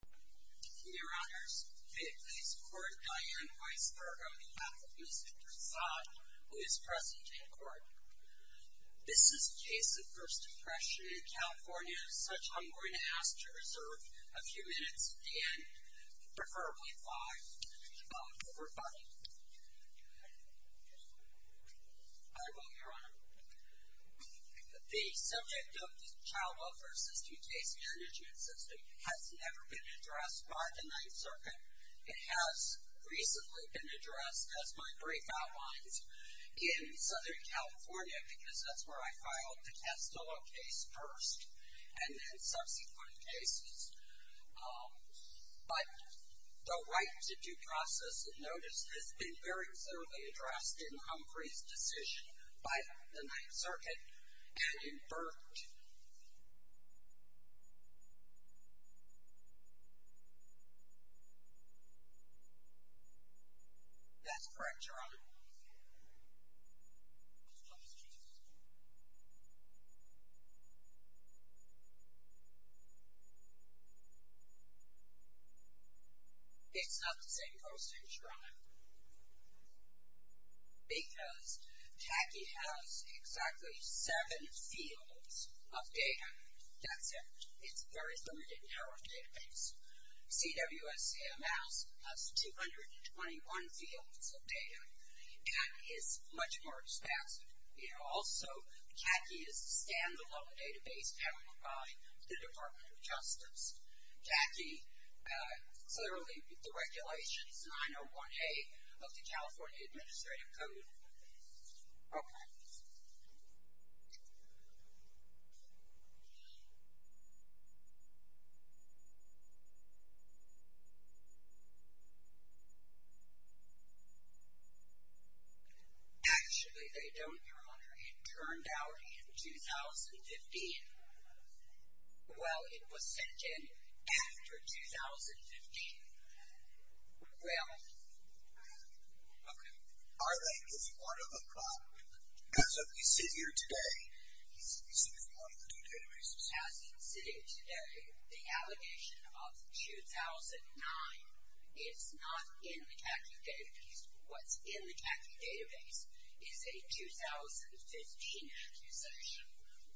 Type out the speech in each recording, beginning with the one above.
Your Honors, may it please the Court, Diane Weisberg on behalf of Mr. Prasad, who is present in court. This is a case of First Impression in California, as such I'm going to ask to reserve a few minutes at the end, preferably five, for rebutting. I will, Your Honor. The subject of the Child Welfare System case management system has never been addressed by the Ninth Circuit. It has recently been addressed, as my brief outlines, in Southern California, because that's where I filed the Testolo case first, and then subsequent cases. But the right to due process, as noted, has been very clearly addressed in Humphrey's decision by the Ninth Circuit, and in Burt. That's correct, Your Honor. It's not the same process, Your Honor. Because CACI has exactly seven fields of data. That's it. It's very limited in our database. CWSC-MS has 221 fields of data. CACI is much more expansive. You know, also, CACI is a stand-alone database powered by the Department of Justice. CACI, clearly, the regulations, 901A of the California Administrative Code. Okay. Okay. Actually, they don't, Your Honor, it turned out in 2015. Well, it was sent in after 2015. Well, okay. Our language is one of a kind. As of we sit here today, CACI is one of the databases. As we sit here today, the allegation of 2009 is not in the CACI database. What's in the CACI database is a 2015 accusation,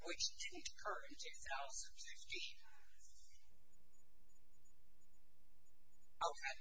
which didn't occur in 2015. Okay. Okay. Okay.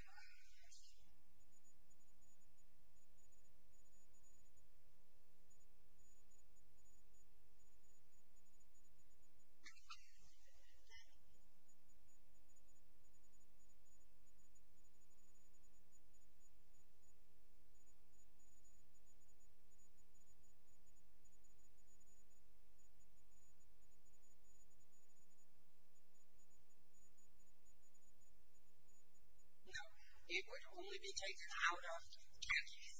Now, it would only be taken out of CACI.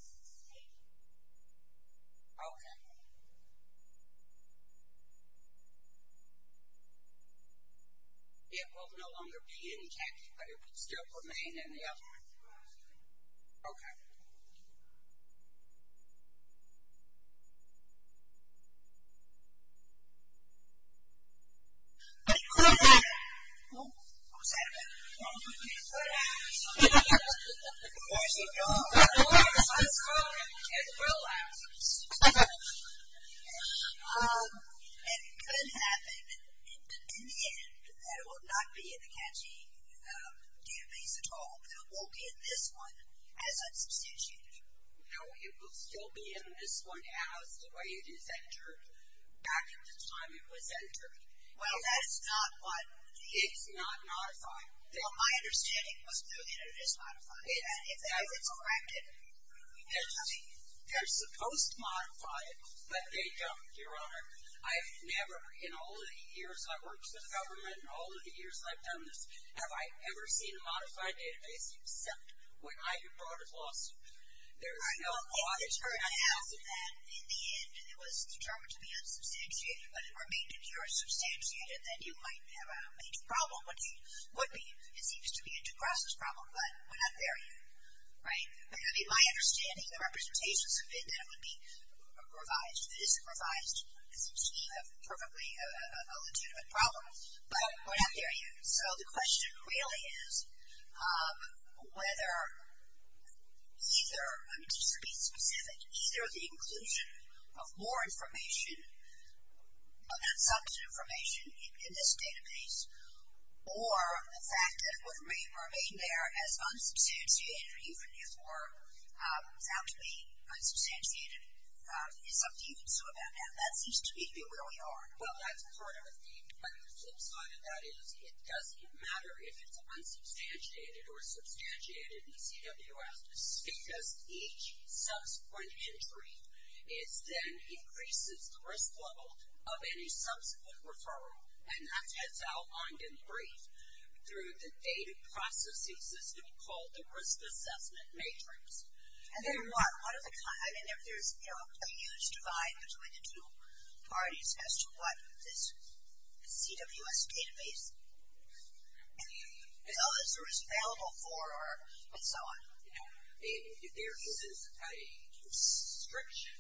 Okay. It will no longer be in CACI, but it will still remain in the other one. Okay. It could have been. Who? Who said that? It could have been. It could have been. It could have been. Of course, it could have been. Of course, it could have been. It could have been. It could have been. It could have been. In the end, it will not be in the CACI database at all. It will be in this one as a substitute. No, it will still be in this one as the way it is entered back at the time it was entered. Well, that's not what the... It's not modified. Well, my understanding was that it is modified. If it's corrected... They're supposed to modify it, but they don't, Your Honor. I've never, in all of the years I've worked for the government, in all of the years I've done this, have I ever seen a modified database, except when I have brought a lawsuit. There is no... Well, if it turned out that in the end it was determined to be unsubstantiated, but it remained in here as substantiated, then you might have a major problem, which it would be. It seems to be a duress problem, but we're not there yet, right? I mean, my understanding, the representations of it, then it would be revised. If it isn't revised, it seems to be perfectly a legitimate problem, but we're not there yet. So the question really is whether either, just to be specific, either the inclusion of more information, of that substantive information in this database, or the fact that it would remain there as unsubstantiated, or even if more sounds to me unsubstantiated, is something you can sue about now. That seems to me to be where we are. Well, that's part of the thing, but the flip side of that is it doesn't matter if it's unsubstantiated or substantiated in the CWS, because each subsequent entry then increases the risk level of any subsequent referral, and that gets outlined in brief through the data processing system called the risk assessment matrix. And then what? I mean, there's a huge divide between the two parties as to what this CWS database, as well as the risk available for, and so on. There is a restriction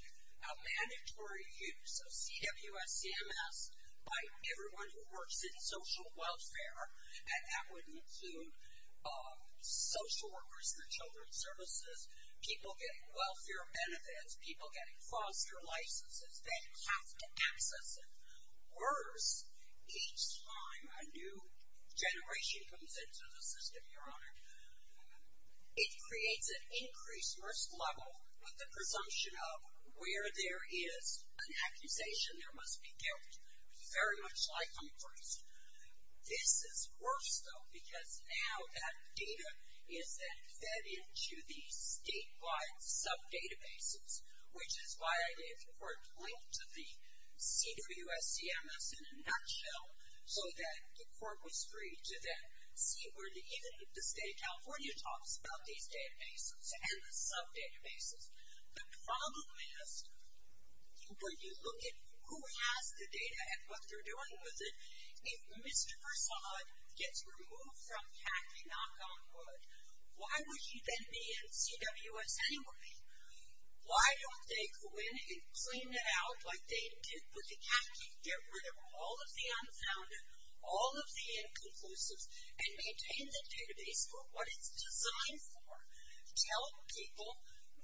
of mandatory use of CWS CMS by everyone who works in social welfare, and that would include social workers in the children's services, people getting welfare benefits, people getting foster licenses. They have to access it. Worse, each time a new generation comes into the system, Your Honor, it creates an increased risk level with the presumption of where there is an accusation, there must be guilt, very much like on first. This is worse, though, because now that data is then fed into the statewide sub-databases, which is why I didn't, before, point to the CWS CMS in a nutshell, so that the Court was free to then see where even the State of California talks about these databases and the sub-databases. The problem is, when you look at who has the data and what they're doing with it, if Mr. Farsad gets removed from Kathy Knock-on-Wood, why would she then be in CWS anyway? Why don't they go in and clean it out like they did with the Kathy, get rid of all of the unfounded, all of the inconclusives, and maintain the database for what it's designed for? Tell people,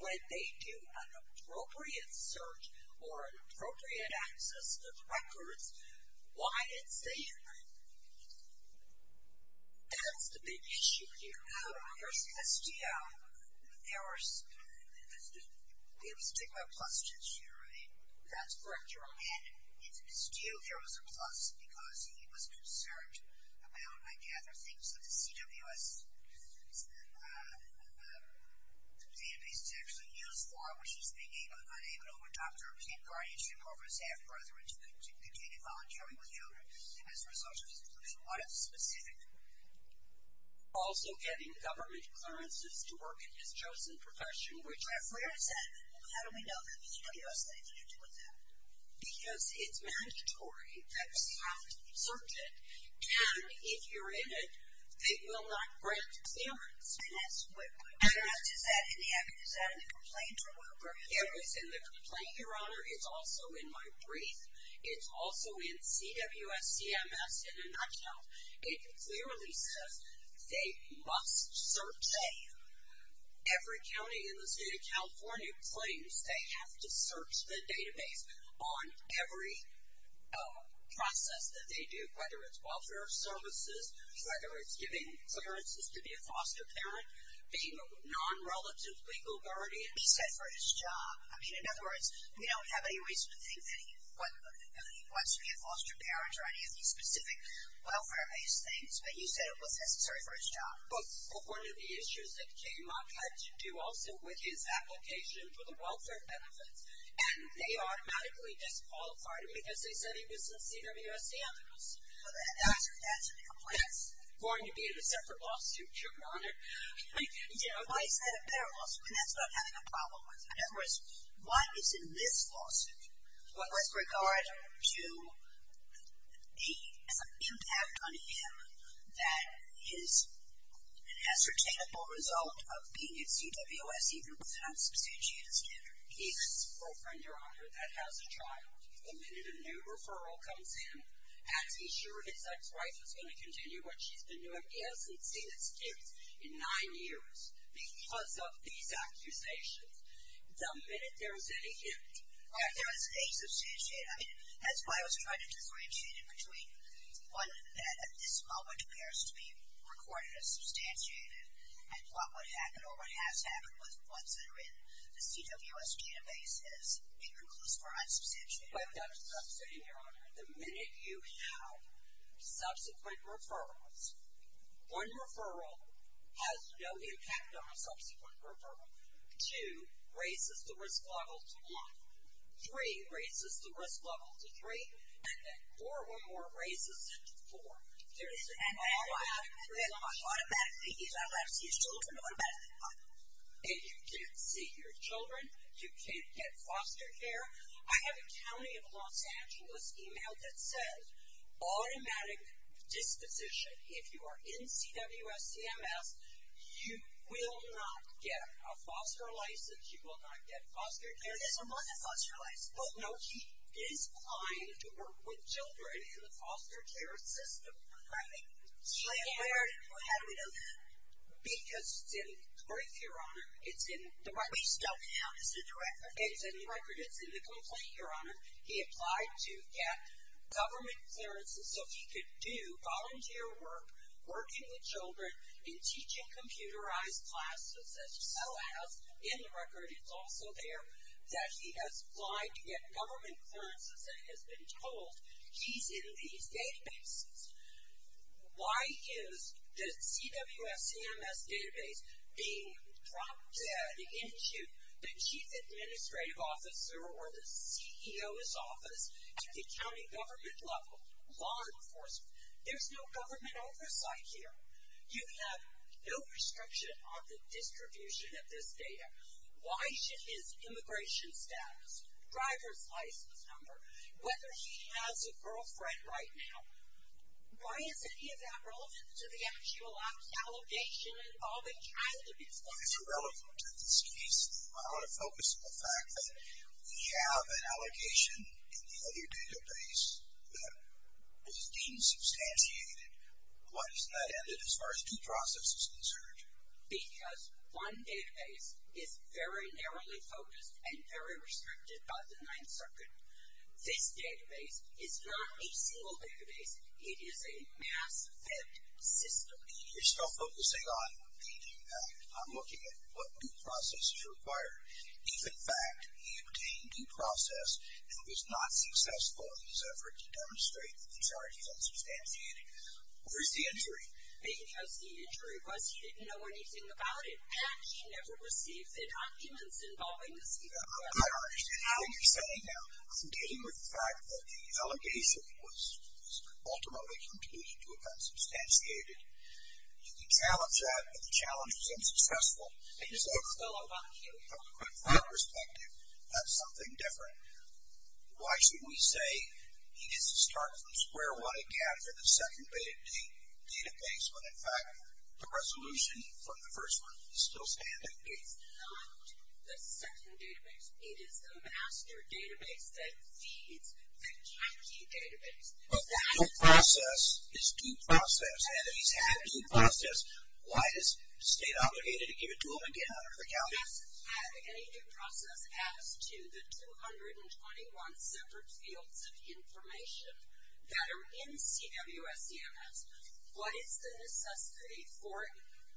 when they do an appropriate search or an appropriate access to the records, why it's there. That's the big issue here. There was a stigma plus issue, right? That's correct. You're right. And it's due. There was a plus because he was concerned about, I gather, things that the CWS database is actually used for, which he's being unable to adopt or can't guardianship over his half-brother to continue volunteering with you as a result of his inclusion. What is specific? Also getting government clearances to work in his chosen profession. Where is that? How do we know that the CWS thinks you're doing that? Because it's mandatory that you have to search it. And if you're in it, it will not grant clearance. I don't know. Is that in the complaint or what? It was in the complaint, Your Honor. It's also in my brief. It's also in CWS CMS in a nutshell. It clearly says they must search it. Every county in the state of California claims they have to search the database on every process that they do, whether it's welfare services, whether it's giving clearances to be a foster parent, being a non-relative legal guardian. He said for his job. I mean, in other words, we don't have any reason to think that he wants to be a foster parent or any of these specific welfare-based things. But he said it was necessary for his job. But one of the issues that Jay Mock had to do also with his application for the welfare benefits, and they automatically disqualified him because they said he was sincere to US standards. That's in the complaint. That's going to be in a separate lawsuit, Your Honor. Why is that a better lawsuit? And that's what I'm having a problem with. In other words, what is in this lawsuit with regard to the impact on him that is an ascertainable result of being at CWS even with an unsubstantiated standard? He has a girlfriend, Your Honor, that has a child. The minute a new referral comes in, has he sure his ex-wife is going to continue what she's been doing? He hasn't seen his kids in nine years because of these accusations. The minute there is any hint. There is a substantiated. That's why I was trying to disorientate it between one that at this moment appears to be recorded as substantiated and what would happen or what has happened with ones that are in the CWS database as being conclusive or unsubstantiated. That's what I'm saying, Your Honor. The minute you have subsequent referrals, one referral has no impact on a subsequent referral. Two raises the risk level to one. Three raises the risk level to three. And then four or more raises it to four. There is an automatic response. He's not allowed to see his children automatically, Your Honor. If you can't see your children, you can't get foster care. I have a county of Los Angeles email that says automatic disposition. If you are in CWS CMS, you will not get a foster license. You will not get foster care. There's a month of foster license. No, he is applying to work with children in the foster care system. Right. How do we know that? Because it's in the brief, Your Honor. We still have the record. It's in the record. It's in the complaint, Your Honor. He applied to get government clearances so he could do volunteer work, working with children and teaching computerized classes. It still has in the record, it's also there, that he has applied to get government clearances and has been told he's in these databases. Why is the CWS CMS database being prompted by the institute, the chief administrative officer, or the CEO's office at the county government level, law enforcement? There's no government oversight here. You have no restriction on the distribution of this data. Why should his immigration status, driver's license number, whether he has a girlfriend right now, why is any of that relevant to the actual allegation involving child abuse? If it's relevant to this case, I want to focus on the fact that we have an allocation in the other database that is deemed substantiated. Why doesn't that end it as far as due process is concerned? Because one database is very narrowly focused and very restricted by the Ninth Circuit. This database is not a single database. It is a mass-fed system. You're still focusing on the impact. I'm looking at what due process is required. If, in fact, he obtained due process and was not successful in his effort to demonstrate that the charge is unsubstantiated, where's the injury? Because the injury was he didn't know anything about it, and he never received the documents involving the CWS. I understand what you're saying now. Dealing with the fact that the allegation was ultimately concluded to have been substantiated, you can challenge that, but the challenge was unsuccessful. I just want to follow up on a few points. From my perspective, that's something different. Why should we say he gets to start from square one again for the second database when, in fact, the resolution from the first one is still standing? It's not the second database. It is the master database that feeds the CACI database. Well, due process is due process, and if he's had due process, why is the state obligated to give it to him and get it out into the county? If he hasn't had any due process as to the 221 separate fields of information that are in CWS CMS, what is the necessity for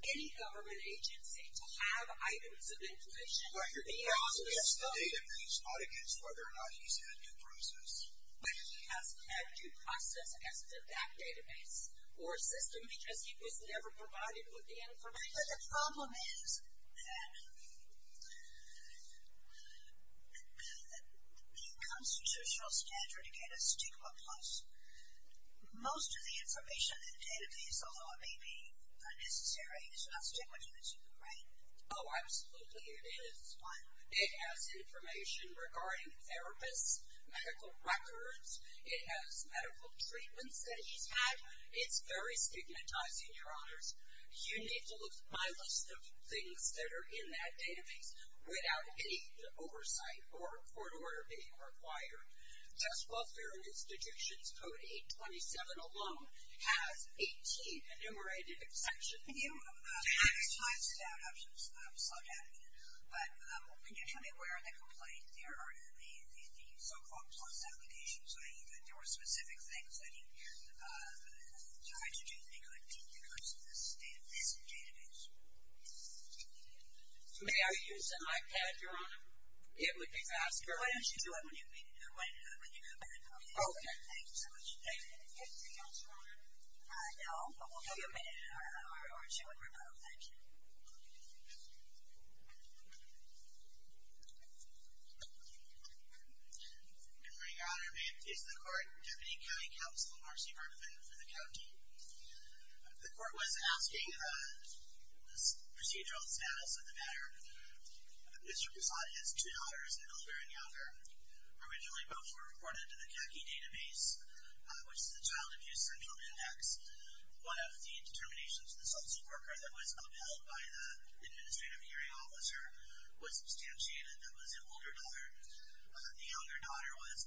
any government agency to have items of information? Well, you're going against the database, not against whether or not he's had due process. But he hasn't had due process as to that database or system because he was never provided with the information. But the problem is that the constitutional standard, again, is stigma plus. Most of the information in the database, although it may be unnecessary, is not stigmatized, right? Oh, absolutely it is. It has information regarding therapists, medical records. It has medical treatments that he's had. It's very stigmatizing, Your Honors. You need to look at my list of things that are in that database without any oversight or court order being required. Sex Welfare and Institutions Code 827 alone has 18 enumerated sections. Can you give me where in the complaint there are the so-called plus applications? I mean, there were specific things that he tried to do that he couldn't because of this database. May I use an iPad, Your Honor? It would be faster. Why don't you do it when you come in? Okay. Thank you so much. Anything else, Your Honor? No. Well, we'll give you a minute or two, and we're good. Thank you. Good morning, Your Honor. May it please the Court, Deputy County Counsel Marcy Hartman for the county. The court was asking the procedural status of the matter. Mr. Poussat has two daughters, an elder and younger. Originally, both were reported to the CACI database, which is the Child Abuse Central Index. One of the determinations of the social worker that was upheld by the Administrative Hearing Officer was substantiated, that was an older daughter. The younger daughter was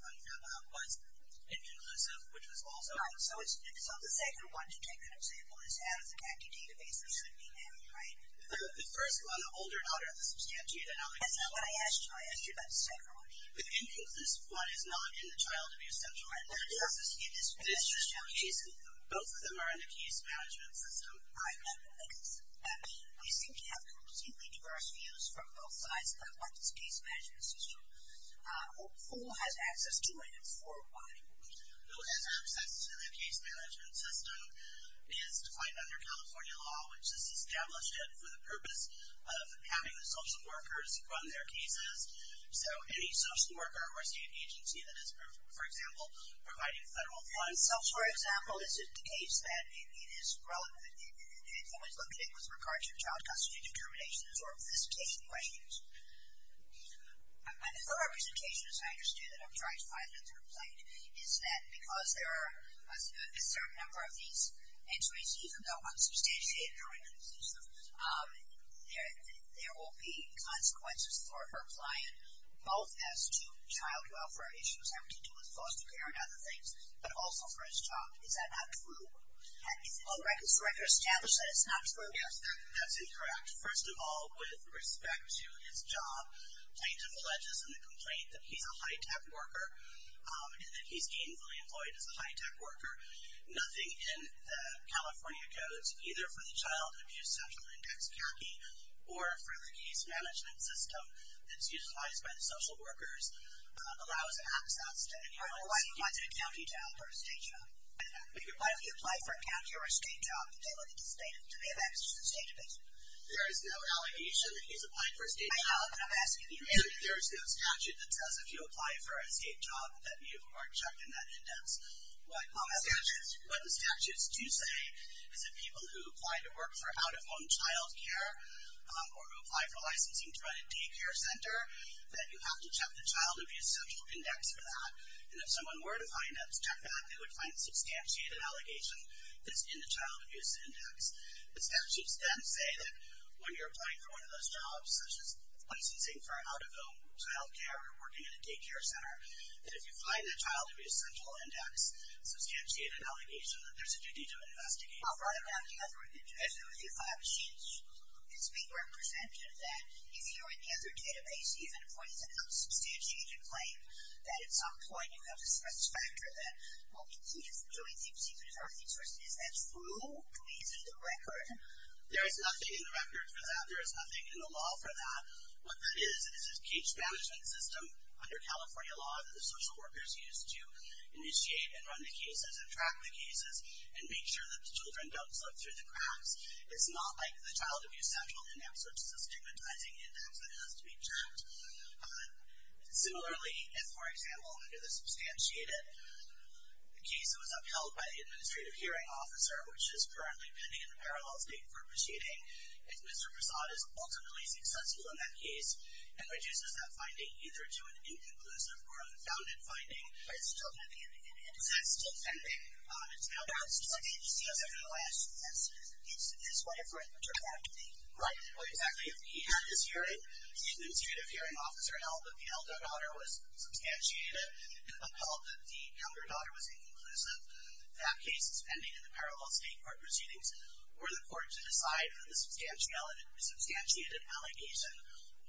inconclusive, which was also. Right. So the second one, to take that example, is out of the CACI database, which would be me, right? The first one, the older daughter of the substantiated. That's not what I asked you. I asked you about the second one. The inconclusive one is not in the Child Abuse Central Index. It's just not in the CACI system. Both of them are in the case management system. I have no evidence. I mean, we seem to have completely diverse views from both sides, but what's the case management system? Who has access to it and for what? Who has access to the case management system is defined under California law, which is established for the purpose of having the social workers run their agency that is, for example, providing federal funds. So, for example, is it the case that it is relevant, it's always limited with regard to child custody determinations or solicitation questions? And her representation, as I understood it, I'm trying to find in the complaint, is that because there are a certain number of these entries, even though unsubstantiated or inconclusive, there will be consequences for her client, both as to child welfare issues having to do with foster care and other things, but also for his job. Is that not true? Has the home records director established that it's not true? Yes, that's incorrect. First of all, with respect to his job, plaintiff alleges in the complaint that he's a high-tech worker and that he's gainfully employed as a high-tech worker. Nothing in the California codes, either for the Child Abuse Central Index, CACI, or for the case management system that's utilized by the social workers, allows access to any high-tech job. Why do you apply for a county job or a state job? Why do you apply for a county or a state job if they look to be of interest to the state division? There is no allegation that he's applied for a state job. I know, but I'm asking you. There is no statute that says if you apply for a state job that you are checked in that index. What the statutes do say is that people who apply to work for out-of-home childcare or who apply for licensing to run a daycare center, that you have to check the Child Abuse Central Index for that. And if someone were to check that, they would find a substantiated allegation that's in the Child Abuse Index. The statutes then say that when you're applying for one of those jobs, such as licensing for out-of-home childcare or working at a daycare center, that if you find that Child Abuse Central Index substantiated allegation, that there's a duty to investigate for that. I'll write it down for you. If I have a sheet that's being represented, that if you're in the other database, even if it's a non-substantiated claim, that at some point you have a stress factor that will be treated as a joint state procedure, is that true? Is it in the record? There is nothing in the record for that. There is nothing in the law for that. What that is, is a case management system under California law that the social workers use to initiate and run the cases and track the cases and make sure that the children don't slip through the cracks. It's not like the Child Abuse Central Index, which is a stigmatizing index that has to be checked. Similarly, if, for example, under the substantiated case that was upheld by the administrative hearing officer, which is currently pending in the parallel state for proceeding, if Mr. Prasad is ultimately successful in that case and reduces that finding either to an inconclusive or unfounded finding, is that still pending? It's now passed. It's in the last instance. It's in this way for a paternity. Right. Exactly. If he had his hearing, the administrative hearing officer held that the elder daughter was substantiated and upheld that the younger daughter was inconclusive, that case is pending in the parallel state court proceedings for the court to decide on the substantiated allegation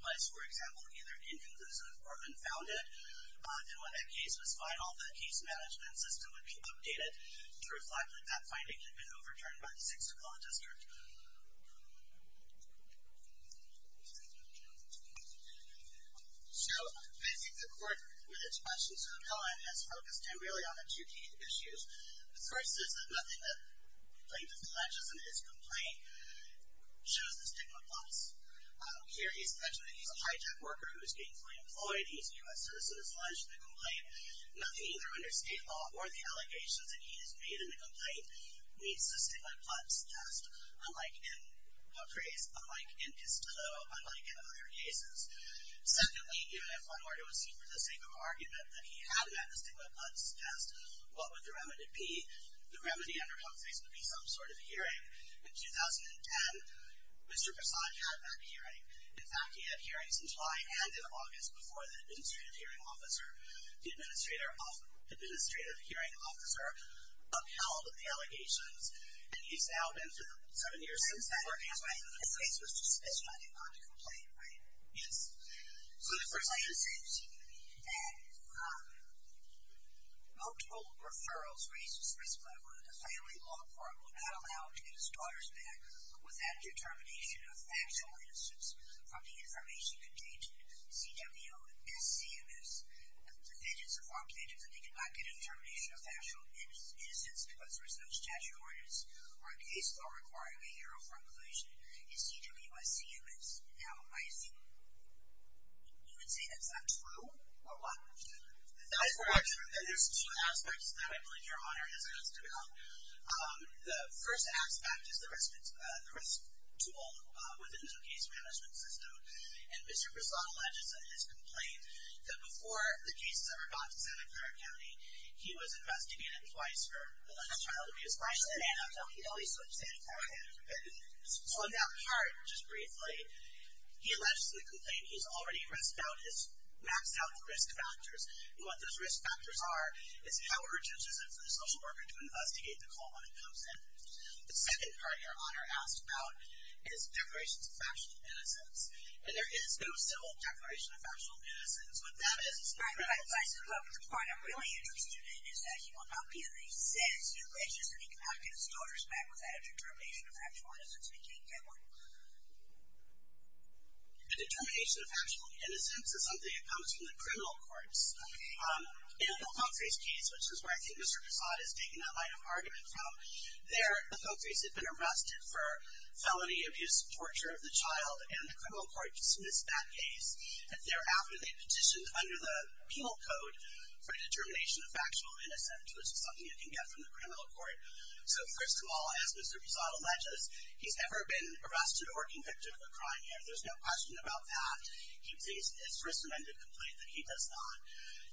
was, for example, either inconclusive or unfounded, then when that case was filed, the case management system would be updated to reflect that that finding had been overturned by the Sixth Law District. So, I think the court, with its questions on LIS, focused in really on the two key issues. The first is that nothing that plaintiff alleges in his complaint shows a stigma clause. Here, he's mentioned that he's a hijacked worker who was gainfully employed. He's a U.S. citizen as alleged in the complaint. Nothing either under state law or the allegations that he has made in the complaint meets the stigma clause test, unlike in Pope Re's, unlike in Castillo, unlike in other cases. Secondly, even if one were to assume, for the sake of argument, that he hadn't had the stigma clause test, what would the remedy be? The remedy under Pope's case would be some sort of hearing. In 2010, Mr. Prasad had that hearing. In fact, he had hearings in July and in August before the Administrative Hearing Officer. The Administrative Hearing Officer upheld the allegations, and he's now been for seven years since then. And the court has, right? This case was just mentioned. I did not have to complain, right? Yes. So, the first thing is, and multiple referrals raised this risk level that the family law firm would not allow to get his daughter's back with that determination of factual innocence from the information contained in CWSCMS. The fidgets, the farm fidgets, that they could not get a determination of factual innocence because there was no statute of ordinances or a case law requiring a hero for inclusion is CWSCMS now icing. You would say that's not true, or what? That's not true. There's two aspects that I believe Your Honor has asked about. The first aspect is the risk tool within the case management system. And Mr. Brisson alleges in his complaint that before the case was ever brought to Santa Clara County, he was investigated twice for alleged child abuse. Twice? He always switched Santa Clara County. So, in that part, just briefly, he alleges in the complaint he's already maxed out the risk factors. And what those risk factors are is how urgent is it for the social worker to investigate the call when it comes in. The second part, Your Honor asked about, is declarations of factual innocence. And there is no civil declaration of factual innocence. What that is is... All right. The part I'm really interested in is that he will not be in the sense, he alleges that he cannot get his daughters back without a determination of factual innocence. We can't get one. A determination of factual innocence is something that comes from the criminal courts. Okay. In the Fogface case, which is where I think Mr. Pissat has taken that line of argument from, there, the Fogface had been arrested for felony abuse and torture of the child, and the criminal court dismissed that case. And thereafter, they petitioned under the penal code for a determination of factual innocence, which is something you can get from the criminal court. So, first of all, as Mr. Pissat alleges, he's never been arrested or convicted of a crime yet. There's no question about that. He would say it's a risk-prevented complaint that he does not.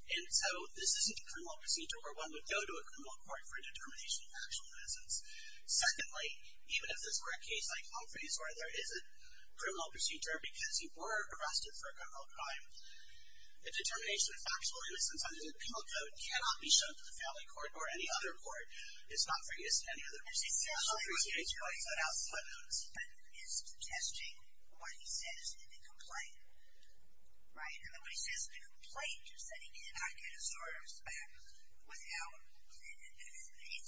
And so, this isn't a criminal procedure where one would go to a criminal court for a determination of factual innocence. Secondly, even if this were a case like Humphrey's where there is a criminal procedure because he were arrested for a criminal crime, a determination of factual innocence under the penal code cannot be shown to the family court or any other court. It's not for use in any other procedure. Humphrey's case right outside of those. ...is testing what he says in the complaint. Right? And when he says in the complaint, just that he cannot get his orders back without...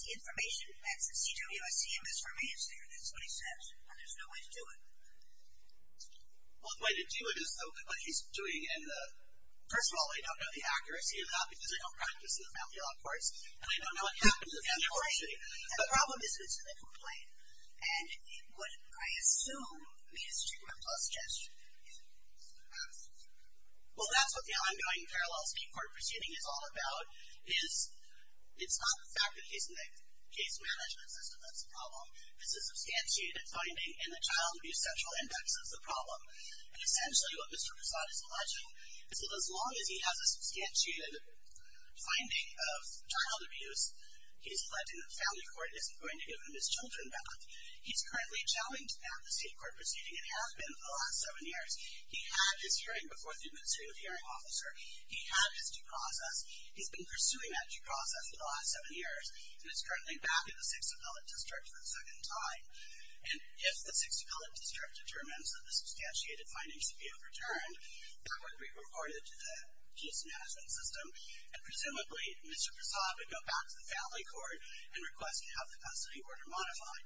It's the information. That's the CWI CMS remains there. That's what he says. And there's no way to do it. One way to do it is what he's doing in the... First of all, they don't know the accuracy of that because they don't practice in the family law courts. And they don't know what happens in the family court. The problem is it's in the complaint. And it would, I assume, be a stigma plus gesture. Well, that's what the ongoing parallel speed court proceeding is all about. It's not the fact that he's in the case management system that's the problem. It's a substantiated finding in the child abuse sexual index that's the problem. And essentially what Mr. Poussaint is alleging is that as long as he has a substantiated finding of child abuse, he's alleging that the family court isn't going to give him his children back. He's currently challenged that in the state court proceeding and has been for the last seven years. He had his hearing before the administrative hearing officer. He had his due process. He's been pursuing that due process for the last seven years. And it's currently back in the Sixth Appellate District for the second time. And if the Sixth Appellate District determines that the substantiated findings should be overturned, that would be reported to the case management system. And presumably, Mr. Poussaint would go back to the family court and request to have the custody order modified.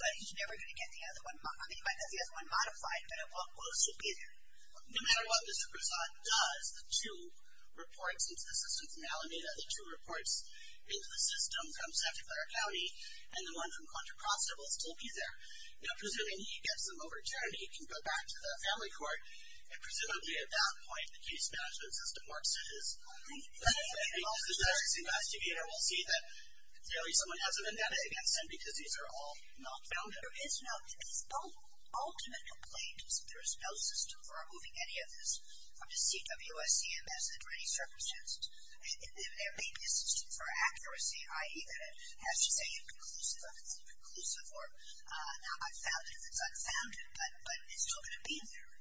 But he's never going to get the other one, he might get the other one modified, but it will still be there. No matter what Mr. Poussaint does, the two reports into the system from Alameda, the two reports into the system from Santa Clara County and the one from Contra Costa will still be there. Now, presuming he gets them overturned, he can go back to the family court and presumably at that point, the case management system works to his benefit. Because the forensic investigator will see that clearly someone has a vendetta against him because these are all not founded. There is no ultimate complaint. There is no system for removing any of this from the CWS CMS under any circumstances. There may be a system for accuracy, i.e. that it has to say inclusive if it's inclusive or not unfounded if it's unfounded. But it's still going to be there.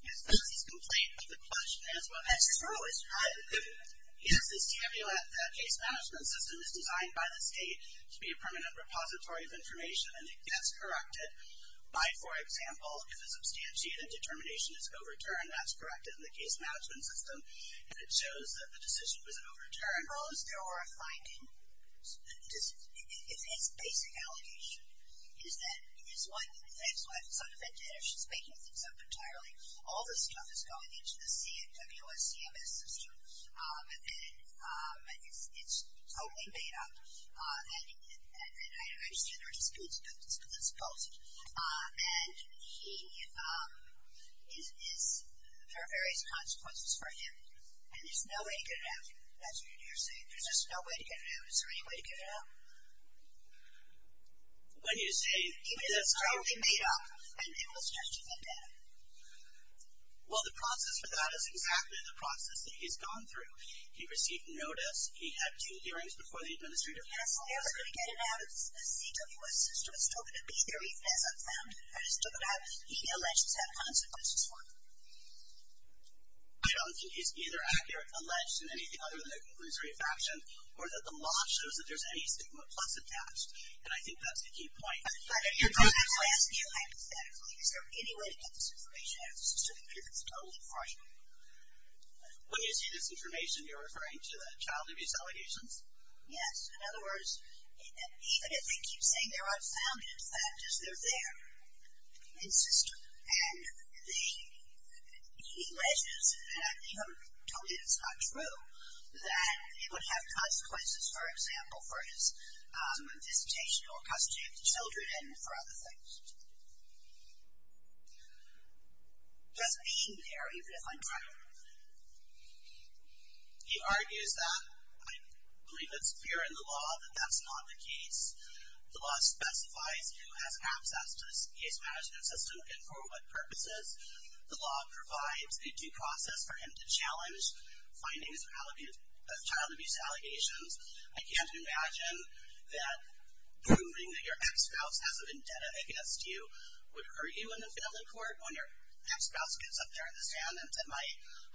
Yes, because he's complained about the question as well. That's true, it's true. Yes, the case management system is designed by the state to be a permanent repository of information and it gets corrected by, for example, if a substantiated determination is overturned. That's corrected in the case management system if it shows that the decision was overturned. As long as there were a finding, it's a basic allegation. That's why if it's not a vendetta, she's making things up entirely. All this stuff is going into the CWS CMS system and it's totally made up. And I understand there are disputes about this, but let's pose it. And there are various consequences for him and there's no way to get it out. That's what you're saying. There's just no way to get it out. Is there any way to get it out? When you say... Even if it's totally made up, and it was just a vendetta. Well, the process for that is exactly the process that he's gone through. He received notice, he had two hearings before the administrative counsel. Yes, I was going to get it out. The CWS system has told him to be there. He hasn't found it. I just took it out. Any allegations have consequences for him. I don't think he's either accurate, alleged in anything other than a conclusory infraction, or that the law shows that there's any stigma plus attached. And I think that's the key point. If I ask you hypothetically, is there any way to get this information out of the system if it's totally fraudulent? When you say this information, you're referring to the child abuse allegations? Yes. In other words, even if they keep saying they're unfounded, the fact is they're there in the system. And he alleges, and I've told him it's not true, that it would have consequences, for example, for his visitation or custody of the children and for other things. Just being there, even if untrue. He argues that, I believe it's clear in the law, that that's not the case. The law specifies who has access to this case management system and for what purposes. The law provides a due process for him to challenge findings of child abuse allegations. I can't imagine that proving that your ex-spouse has a vendetta against you would hurt you in the family court. When your ex-spouse gets up there in the stand and said, my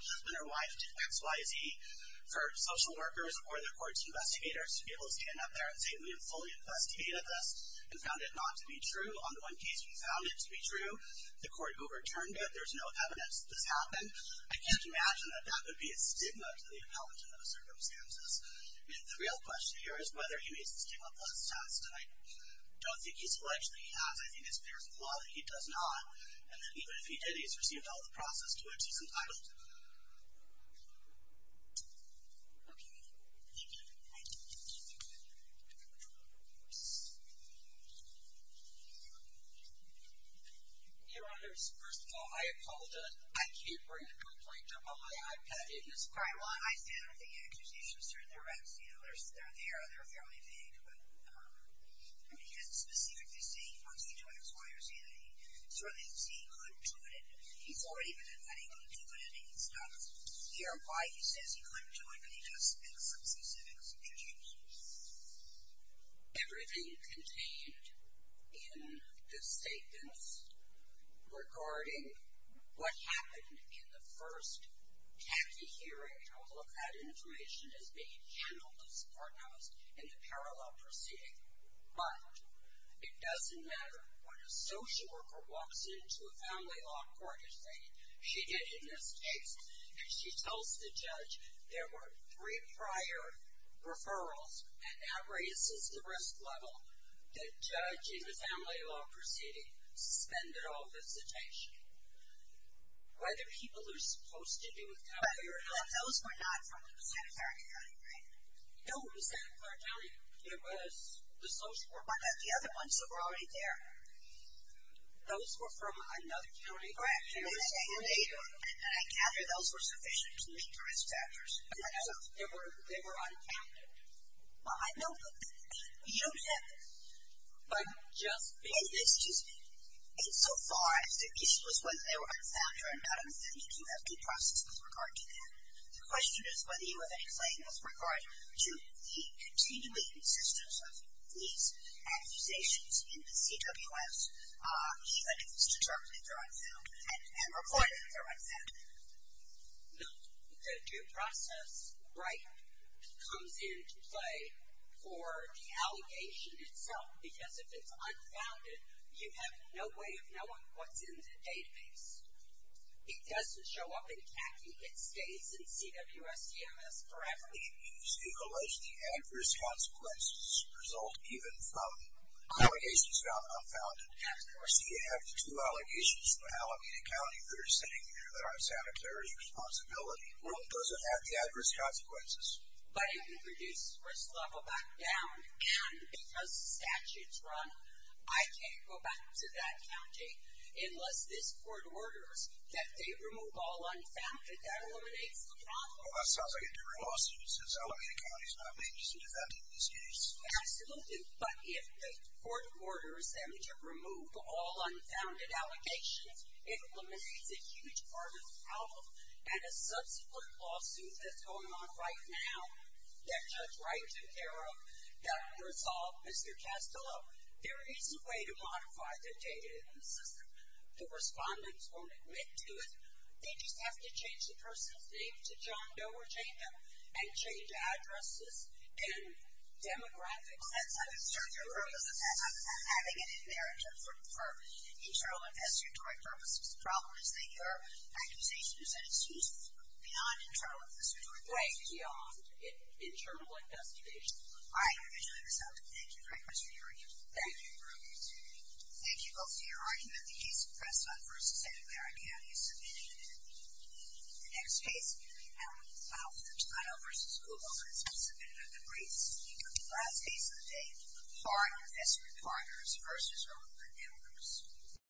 husband or wife did X, Y, Z for social workers or the court's investigators to be able to stand up there and say, we have fully investigated this and found it not to be true. On the one case we found it to be true, the court overturned it. There's no evidence that this happened. I can't imagine that that would be a stigma to the appellant in those circumstances. The real question here is whether he meets the stigma plus test. I don't think he's alleged that he has. I think it's clear from the law that he does not. Even if he did, he's received all the process to which he's entitled to. Thank you. Your honors, first of all, I apologize. I can't bring a complaint up on my iPad. I stand with the accusations. They're there. They're fairly vague. He hasn't specifically said he wants you to X, Y, or Z. Certainly, he could do it. He's already been admitting he could do it. He can stop here. Why he says he couldn't do it could he just make some specific suggestions? Everything contained in the statements regarding what happened in the first tacky hearing, all of that information is being handled as forenosed in the parallel proceeding. But, it doesn't matter when a social worker walks into a family law court and says she did a mistake and she tells the judge there were three prior referrals and that raises the risk level that judge in the family law proceeding suspended all visitation. Whether people are supposed to be with company or not. But those were not from Santa Clara County, right? No, it was Santa Clara County. It was the social worker. But not the other ones that were already there. Those were from another county. Correct. And I gather those were sufficient to meet the risk factors. Correct. They were uncounted. Well, I know, but you have But just because. In so far as the issue was whether they were unfound or not, I'm assuming you have due process with regard to that. The question is whether you have any claim with regard to the continuing existence of these accusations in the CWS even if it's determined that they're unfound and reported that they're unfound. No. The due process, right, comes into play for the allegation itself because if it's unfounded, you have no way of knowing what's in the database. It doesn't show up in CACI. It stays in CWS CMS. Correct. And you still allege the adverse consequences result even from allegations about unfounded. Of course, you have the two allegations from Alameda County that are sitting there that are Santa Clara's responsibility. Well, it doesn't have the adverse consequences. But it can reduce risk level back down and because statutes run, I can't go back to that county unless this court orders that they remove all unfounded. That eliminates the problem. Well, that sounds like a different lawsuit since Alameda County is not a major city that did this case. Absolutely. But if the court orders them to remove all unfounded allegations, it eliminates a huge part of the problem and a subsequent lawsuit that's going on right now that Judge Wright took care of that would resolve Mr. Castillo. There is a way to modify the data in the system. The respondents won't admit to it. They just have to change the person's name to John Doe or Jane Doe and change addresses and demographics. Well, that's having an inheritance for internal investigatory purposes. The problem is that your accusation is that it's used beyond internal investigatory purposes. Right, beyond internal investigations. I individually responded. Thank you for your question, Your Honor. Thank you, Your Honor. Thank you both for your argument. The case of Preston v. Alameda County is submitted. The next case, Alameda South, Ohio v. Oklahoma, is to be submitted under grace. The last case of the day, Hart v. Clarkers v. Oakland, Illinois.